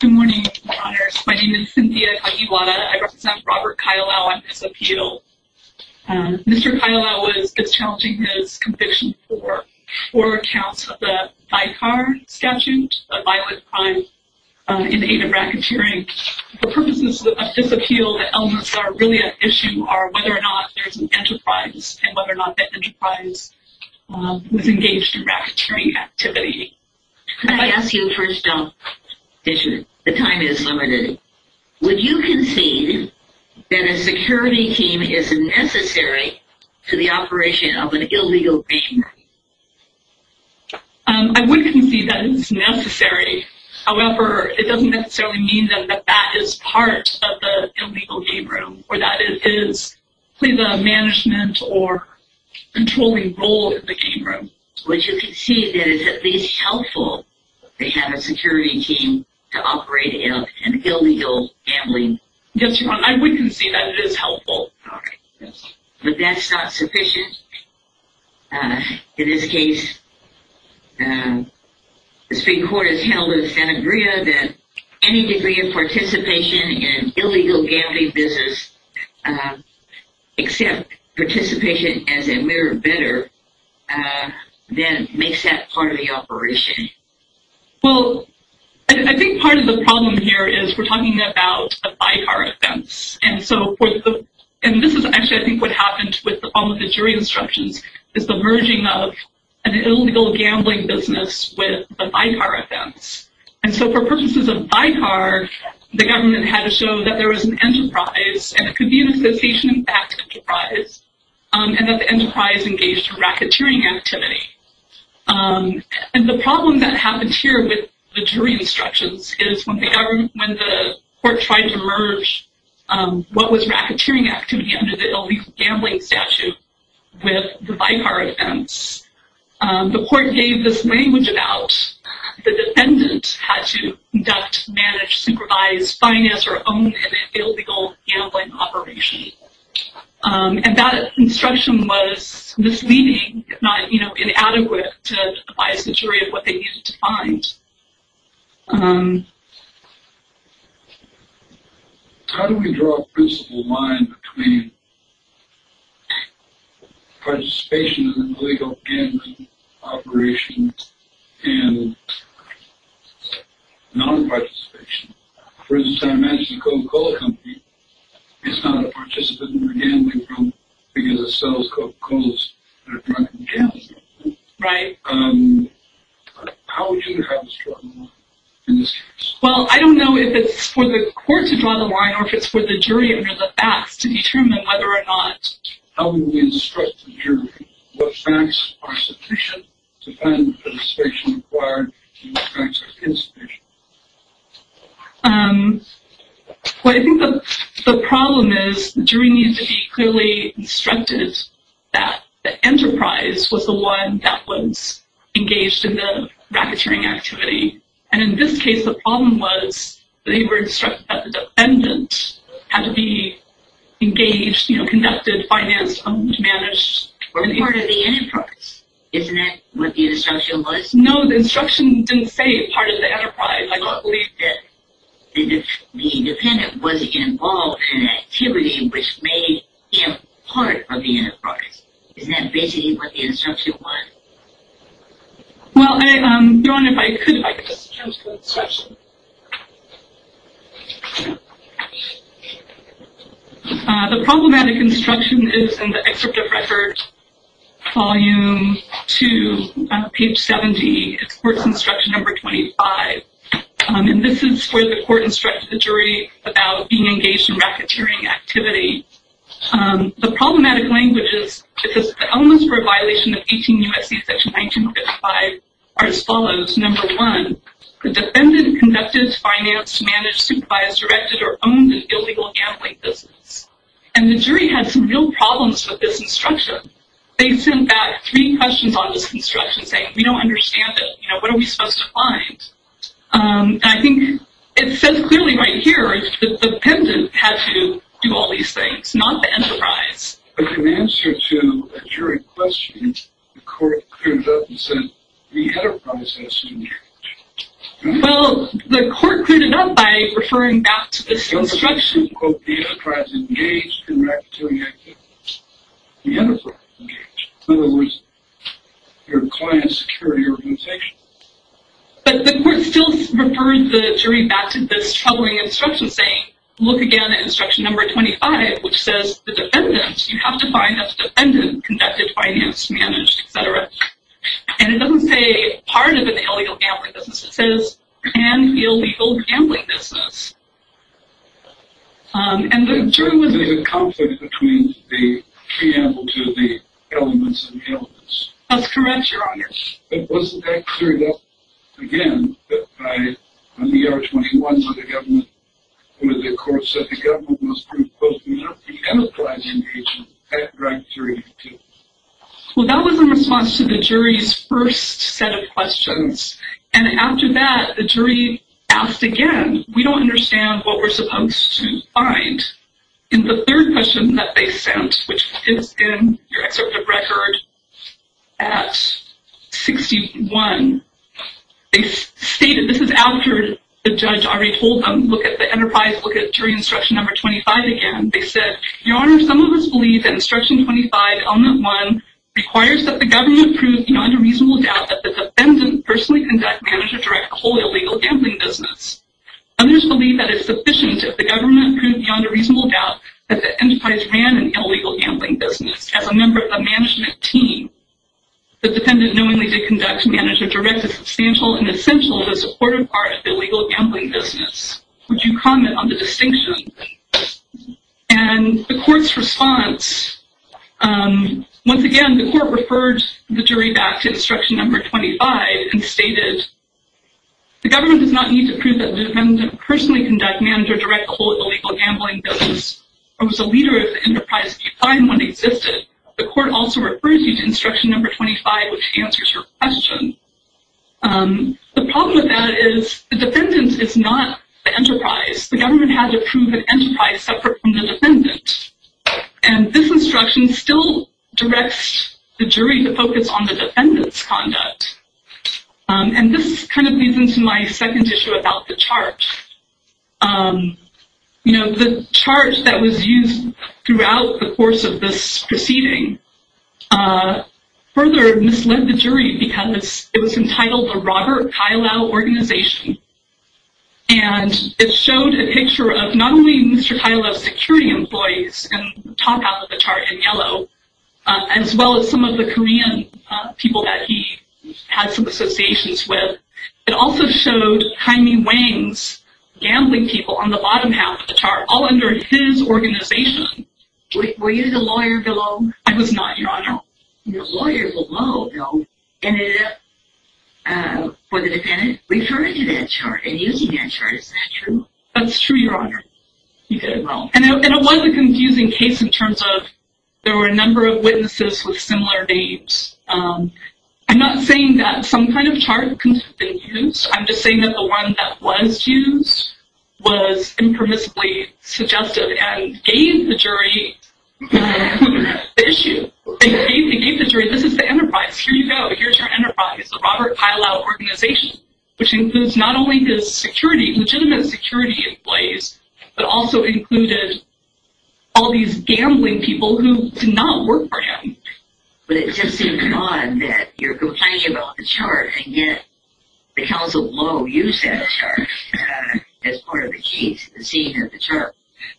Good morning, Your Honors. My name is Cynthia Kagiwara. I represent Robert Kaialau on this appeal. Mr. Kaialau is challenging his conviction for four counts of the Vicar Statute, a violent crime in the aid of racketeering. The purposes of this appeal, the elements that are really at issue, are whether or not there's an enterprise, and whether or not the enterprise was engaged in racketeering activity. Could I ask you a first-jump question? The time is limited. Would you concede that a security team is necessary to the operation of an illegal game room? I would concede that it's necessary. However, it doesn't necessarily mean that that is part of the illegal game room, or that it is the management or controlling role of the game room. Would you concede that it's at least helpful to have a security team to operate an illegal gambling business? Yes, Your Honor, I would concede that it is helpful. But that's not sufficient? In this case, the Supreme Court has held in Santa Maria that any degree of participation in an illegal gambling business, except participation as a mere bidder, then makes that part of the operation. Well, I think part of the problem here is we're talking about a vicar offense. And this is actually, I think, what happened with the problem with the jury instructions, is the merging of an illegal gambling business with a vicar offense. And so for purposes of vicar, the government had to show that there was an enterprise, and it could be an association-backed enterprise, and that the enterprise engaged in racketeering activity. And the problem that happens here with the jury instructions is when the court tried to merge what was racketeering activity under the illegal gambling statute with the vicar offense, the court gave this language about the defendant had to conduct, manage, supervise, finance, or own an illegal gambling operation. And that instruction was misleading, if not inadequate, to advise the jury of what they needed to find. How do we draw a principled line between participation in an illegal gambling operation and non-participation? For instance, I mentioned the Coca-Cola company is not a participant in the gambling room because it sells Coca-Colas that are drunk and gambling. Right. How would you have us draw the line in this case? Well, I don't know if it's for the court to draw the line or if it's for the jury under the facts to determine whether or not... How would we instruct the jury? What facts are sufficient to find the participation required, and what facts are insufficient? Well, I think the problem is the jury needs to be clearly instructed that the enterprise was the one that was engaged in the racketeering activity. And in this case, the problem was they were instructed that the defendant had to be engaged, you know, conducted, financed, owned, managed... Or part of the enterprise. Isn't that what the instruction was? No, the instruction didn't say part of the enterprise. I don't believe that the defendant was involved in an activity which made him part of the enterprise. Isn't that basically what the instruction was? Well, Dawn, if I could, if I could just jump to the instruction. The problematic instruction is in the excerpt of record, volume 2, page 70. It's court's instruction number 25. And this is where the court instructed the jury about being engaged in racketeering activity. The problematic language is that the elements for a violation of 18 U.S.C. section 1955 are as follows. Number one, the defendant conducted, financed, managed, supervised, directed, or owned an illegal gambling business. And the jury had some real problems with this instruction. They sent back three questions on this instruction saying, we don't understand it, you know, what are we supposed to find? And I think it says clearly right here that the defendant had to do all these things, not the enterprise. In answer to a jury question, the court cleared it up and said, the enterprise has to be engaged. Well, the court cleared it up by referring back to this instruction. The enterprise engaged in racketeering activity. The enterprise engaged. In other words, your client's security organization. But the court still referred the jury back to this troubling instruction saying, look again at instruction number 25, which says the defendant, you have to find a defendant who conducted, financed, managed, etc. And it doesn't say part of an illegal gambling business. It says an illegal gambling business. And the jury was- There's a conflict between the preamble to the elements and the elements. That's correct, Your Honor. But wasn't that cleared up again by when the R21s of the government, when the court said the government must prove both the enterprise engagement and racketeering activity? Well, that was in response to the jury's first set of questions. And after that, the jury asked again, we don't understand what we're supposed to find. In the third question that they sent, which is in your excerpt of record at 61, they stated, this is after the judge already told them, look at the enterprise, look at jury instruction number 25 again. They said, Your Honor, some of us believe that instruction 25, element 1, requires that the government prove beyond a reasonable doubt that the defendant personally conducted, managed, etc. a wholly illegal gambling business. Others believe that it's sufficient if the government proved beyond a reasonable doubt that the enterprise ran an illegal gambling business as a member of a management team. The defendant knowingly did conduct, manage, or direct a substantial and essential but supportive part of the illegal gambling business. Would you comment on the distinction? And the court's response, once again, the court referred the jury back to instruction number 25 and stated, The government does not need to prove that the defendant personally conducted, managed, or direct a wholly illegal gambling business or was a leader of the enterprise in decline when it existed. The court also refers you to instruction number 25, which answers your question. The problem with that is the defendant is not the enterprise. The government had to prove an enterprise separate from the defendant. And this instruction still directs the jury to focus on the defendant's conduct. And this kind of leads into my second issue about the chart. You know, the chart that was used throughout the course of this proceeding further misled the jury because it was entitled the Robert Kailau Organization. And it showed a picture of not only Mr. Kailau's security employees in the top half of the chart in yellow, as well as some of the Korean people that he had some associations with. It also showed Jaime Wang's gambling people on the bottom half of the chart, all under his organization. Were you the lawyer below? I was not, Your Honor. The lawyer below, though, ended up, for the defendant, referring to that chart and using that chart. Is that true? That's true, Your Honor. You did well. And it was a confusing case in terms of there were a number of witnesses with similar names. I'm not saying that some kind of chart could have been used. I'm just saying that the one that was used was impermissibly suggestive and gave the jury the issue. It gave the jury, this is the enterprise. Here you go. Here's your enterprise, the Robert Kailau Organization, which includes not only his security, legitimate security employees, but also included all these gambling people who did not work for him. But it just seems odd that you're complaining about the chart and yet the counsel below used that chart as part of the case, seeing that the chart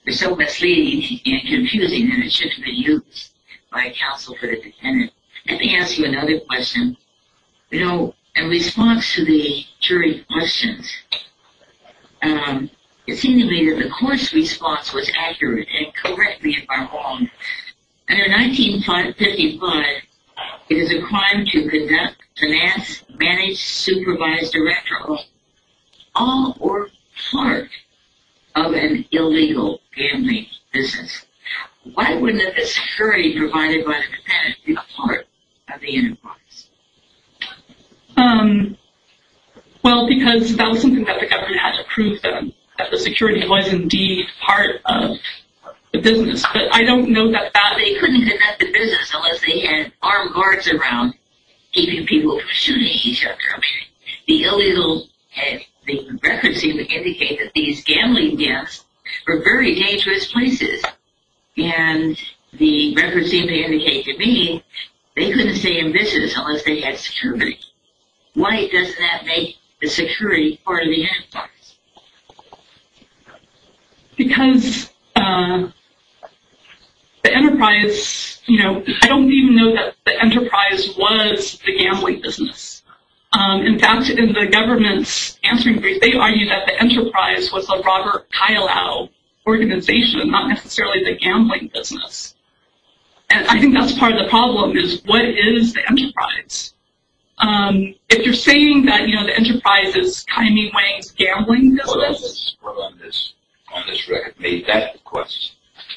was so misleading and confusing that it should have been used by counsel for the defendant. Let me ask you another question. You know, in response to the jury's questions, it seemed to me that the court's response was accurate and correctly informed. Under 1955, it is a crime to conduct, finance, manage, supervise, direct, all or part of an illegal gambling business. Why wouldn't the security provided by the defendant be a part of the enterprise? Well, because that was something that the government had to prove then, that the security was indeed part of the business. But I don't know that that... They couldn't conduct the business unless they had armed guards around keeping people from shooting each other. The illegal... The records seem to indicate that these gambling deaths were very dangerous places. And the records seem to indicate to me they couldn't stay in business unless they had security. Why doesn't that make the security part of the enterprise? Because the enterprise, you know, I don't even know that the enterprise was the gambling business. In fact, in the government's answering brief, they argued that the enterprise was the Robert Kailau organization, not necessarily the gambling business. And I think that's part of the problem, is what is the enterprise? If you're saying that, you know, the enterprise is Kymie Wang's gambling business... On this record, maybe that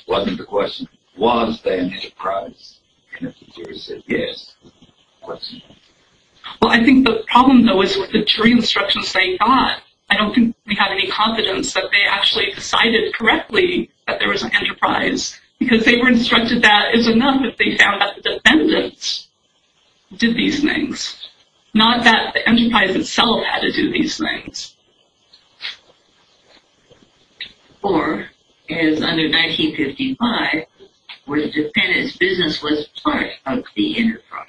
wasn't the question. Was the enterprise? And if the jury said yes, what's the question? Well, I think the problem, though, is with the jury instructions they got. I don't think we have any confidence that they actually decided correctly that there was an enterprise. Because they were instructed that is enough if they found that the defendants did these things. Not that the enterprise itself had to do these things. Or, as under 1955, where the defendant's business was part of the enterprise.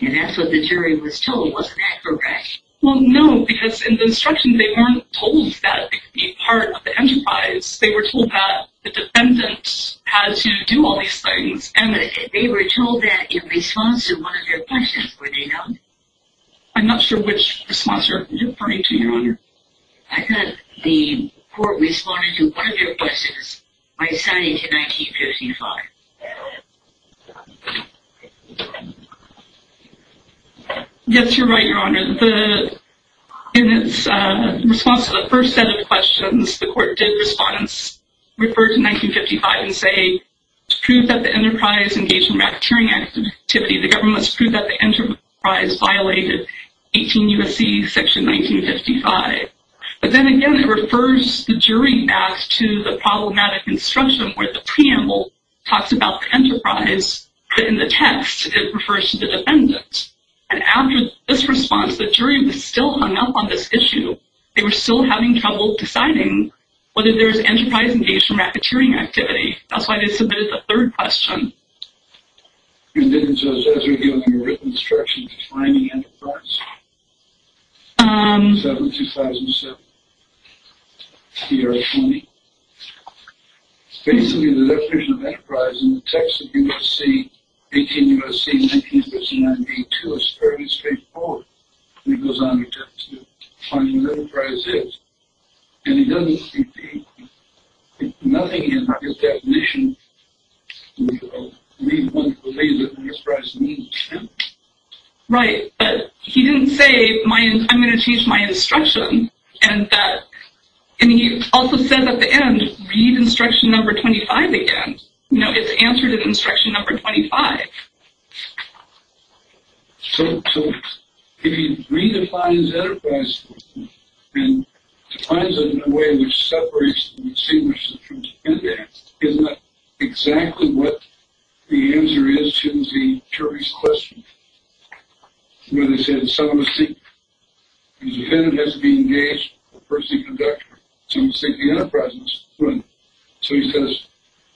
And that's what the jury was told. Wasn't that correct? Well, no, because in the instructions they weren't told that it could be part of the enterprise. They were told that the defendants had to do all these things. And they were told that in response to one of your questions, were they not? I'm not sure which response you're referring to, Your Honor. I thought the court responded to one of your questions by assigning to 1955. Yes, you're right, Your Honor. In its response to the first set of questions, the court did, in response, refer to 1955 and say, to prove that the enterprise engaged in racketeering activity, the government must prove that the enterprise violated 18 U.S.C. section 1955. But then again, it refers the jury back to the problematic instruction where the preamble talks about the enterprise, but in the text, it refers to the defendant. And after this response, the jury was still hung up on this issue. They were still having trouble deciding whether there was enterprise engaged in racketeering activity. That's why they submitted the third question. And then it says, as revealed in your written instruction, defining enterprise. Is that from 2007? The year of 20? Basically, the definition of enterprise in the text of U.S.C., 18 U.S.C., 1959, 1982, is fairly straightforward. And it goes on to define what enterprise is. And it doesn't say anything in the definition. We want to believe that enterprise means something. Right. But he didn't say, I'm going to change my instruction. And he also says at the end, read instruction number 25 again. You know, it's answered in instruction number 25. So, if he redefines enterprise, and defines it in a way which separates the receivership from the defendant, isn't that exactly what the answer is to the jury's question? Where they said, some receive. The defendant has to be engaged with the person conducting it. Some receive the enterprise. So, he says,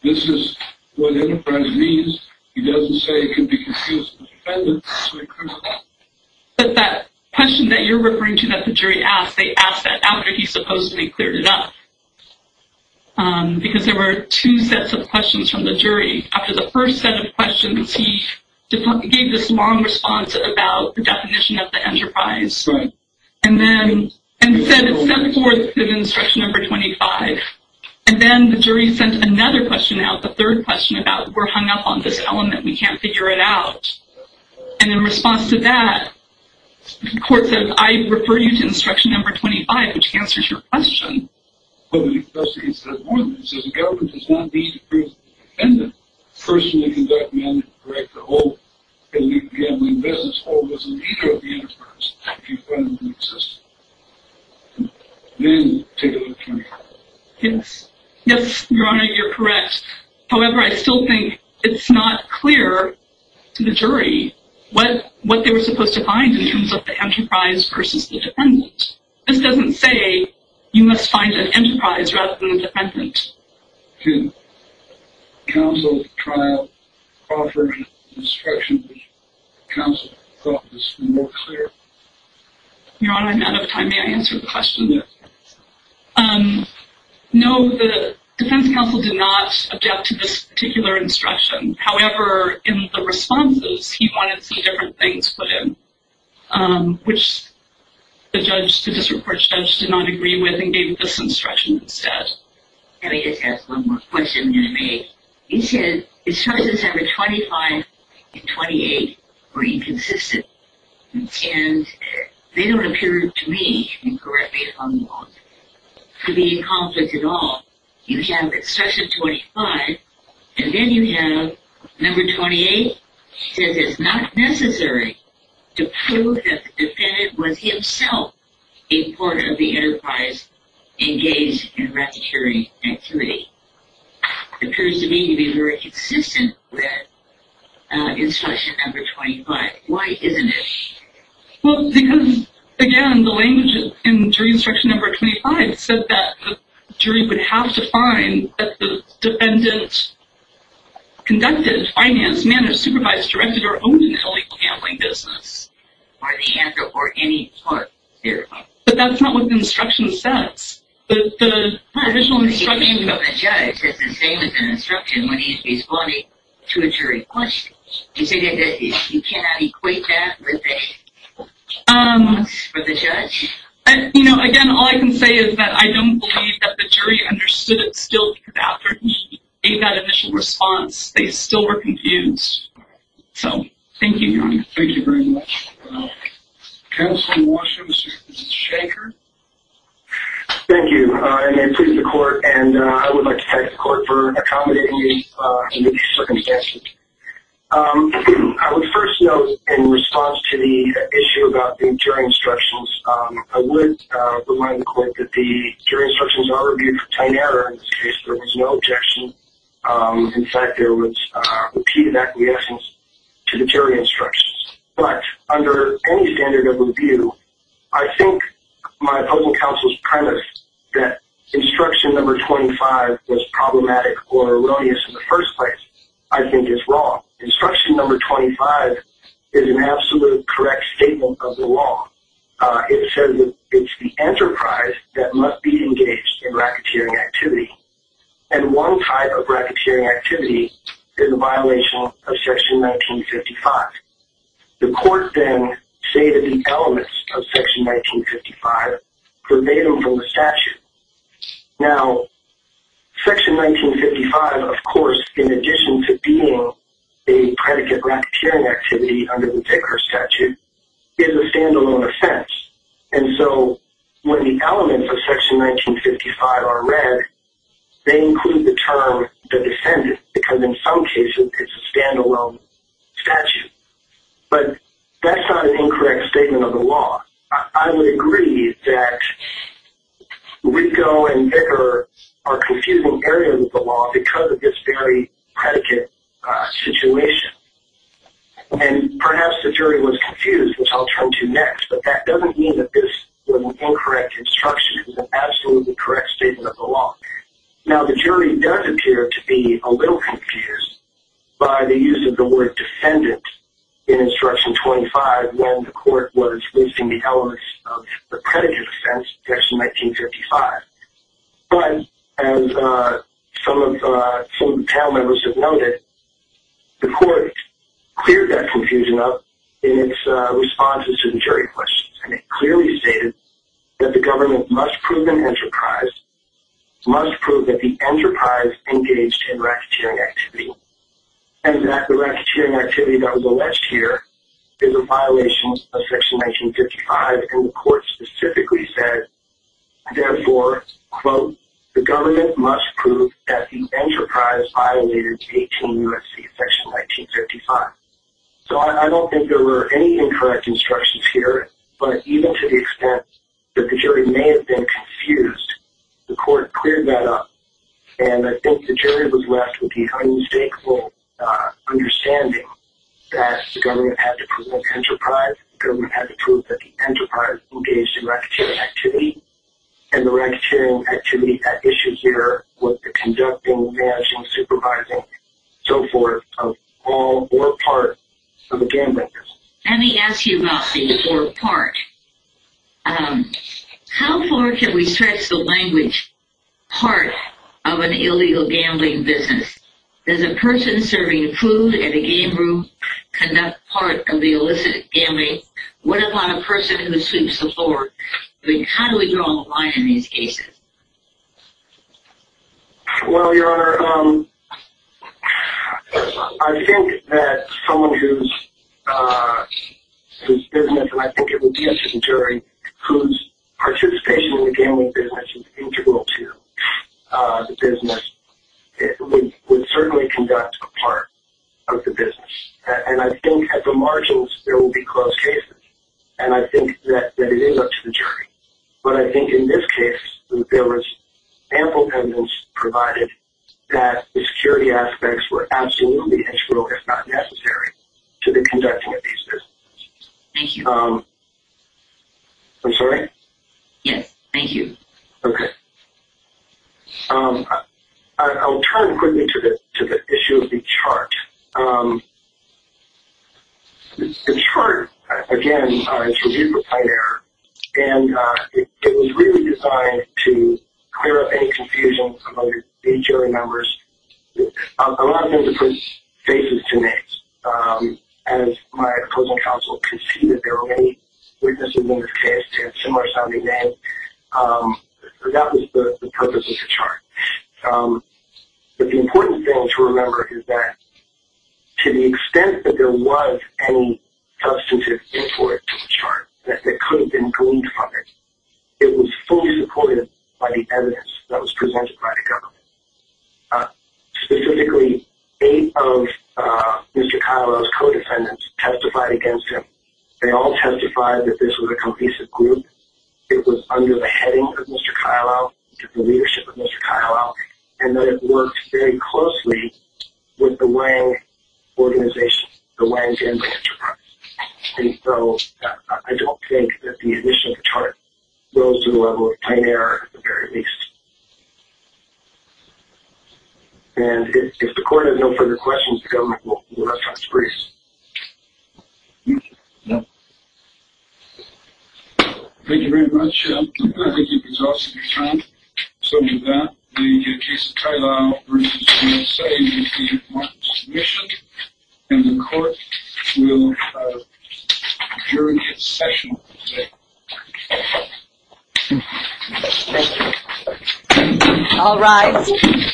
this is what enterprise means. He doesn't say it could be confused with defendant. But that question that you're referring to that the jury asked, they asked that after he supposedly cleared it up. Because there were two sets of questions from the jury. After the first set of questions, he gave this long response about the definition of the enterprise. Right. And said it's sent forth in instruction number 25. And then the jury sent another question out, the third question, about we're hung up on this element. We can't figure it out. And in response to that, the court said, I refer you to instruction number 25, which answers your question. Well, the investigation says more than that. It says the government does not need to prove the defendant personally conducted management to correct the whole elite gambling business or was a leader of the enterprise. A few friends of the system. Then, take a look at 25. Yes. Yes, Your Honor, you're correct. However, I still think it's not clear to the jury what they were supposed to find in terms of the enterprise versus the defendant. This doesn't say you must find an enterprise rather than a defendant. Can counsel trial offer instruction which counsel thought was more clear? Your Honor, I'm out of time. May I answer the question? Yes. No, the defense counsel did not adapt to this particular instruction. However, in the responses, he wanted some different things put in, which the district court judge did not agree with and gave this instruction instead. Let me just ask one more question. He said instructions number 25 and 28 were inconsistent. They don't appear to me to be in conflict at all. You have instruction 25 and then you have number 28. He says it's not necessary to prove that the defendant was himself a part of the enterprise engaged in racketeering activity. It appears to me to be very consistent with instruction number 25. Why isn't it? Well, because, again, the language in jury instruction number 25 said that the jury would have to find that the defendant conducted, financed, managed, supervised, directed, or owned an illegal gambling business. Are the answer for any part here? But that's not what the instruction says. The original instruction. The name of the judge is the same as the instruction when he's responding to a jury question. You cannot equate that with the judge? Again, all I can say is that I don't believe that the jury understood it still because after he gave that initial response, they still were confused. So, thank you. Thank you very much. Counsel in Washington, Mr. Shanker. Thank you. I may please the court, and I would like to thank the court for accommodating me in these circumstances. I would first note in response to the issue about the jury instructions, I would remind the court that the jury instructions are reviewed for tiny error. In this case, there was no objection. In fact, there was repeated acquiescence to the jury instructions. But under any standard of review, I think my public counsel's premise that instruction number 25 was problematic or erroneous in the first place, I think is wrong. Instruction number 25 is an absolute correct statement of the law. It says that it's the enterprise that must be engaged in racketeering activity, and one type of racketeering activity is a violation of Section 1955. The court then say that the elements of Section 1955 pervade them from the statute. Now, Section 1955, of course, in addition to being a predicate racketeering activity under the Pickard statute, is a standalone offense. And so, when the elements of Section 1955 are read, they include the term the defendant, because in some cases it's a standalone statute. But that's not an incorrect statement of the law. I would agree that Rigo and Pickard are confusing areas of the law because of this very predicate situation. And perhaps the jury was confused, which I'll turn to next, but that doesn't mean that this was an incorrect instruction. It was an absolutely correct statement of the law. Now, the jury does appear to be a little confused by the use of the word defendant in Instruction 25 when the court was listing the elements of the predicate offense, Section 1955. But, as some of the panel members have noted, the court cleared that confusion up in its responses to the jury questions, and it clearly stated that the government must prove an enterprise, must prove that the enterprise engaged in racketeering activity, and that the racketeering activity that was alleged here is a violation of Section 1955. And the court specifically said, therefore, quote, the government must prove that the enterprise violated 18 U.S.C. Section 1955. So, I don't think there were any incorrect instructions here, but even to the extent that the jury may have been confused, the court cleared that up. And I think the jury was left with the unmistakable understanding that the government had to prove an enterprise, the government had to prove that the enterprise engaged in racketeering activity, and the racketeering activity at issue here was the conducting, managing, supervising, so forth, of all or part of the gambling business. Let me ask you about the or part. How far can we stretch the language part of an illegal gambling business? Does a person serving food at a game room conduct part of the illicit gambling? What about a person who sweeps the floor? How do we draw a line in these cases? Well, Your Honor, I think that someone whose business, and I think it would be up to the jury, whose participation in the gambling business is integral to the business, would certainly conduct a part of the business. And I think at the margins, there will be close cases. And I think that it is up to the jury. But I think in this case, there was ample evidence provided that the security aspects were absolutely integral, if not necessary, to the conducting of these businesses. Thank you. I'm sorry? Yes, thank you. Okay. I'll turn quickly to the issue of the chart. The chart, again, is reviewed for plain error, and it was really designed to clear up any confusion among the jury members. A lot of things it puts faces to names. As my opposing counsel could see that there were many witnesses in this case who had similar sounding names, that was the purpose of the chart. But the important thing to remember is that to the extent that there was any substantive input to the chart that could have been gleaned from it, it was fully supported by the evidence that was presented by the government. Specifically, eight of Mr. Kylow's co-defendants testified against him. They all testified that this was a complete group. It was under the heading of Mr. Kylow, under the leadership of Mr. Kylow, and that it worked very closely with the Wang organization, the Wang family enterprise. And so I don't think that the addition of the chart goes to the level of plain error, at the very least. And if the court has no further questions, the government will let Mr. Brees. Thank you very much. I think you've exhausted your time. So with that, the case of Kylow versus Brees will say that we want submission, and the court will adjourn its session today. Thank you. All rise.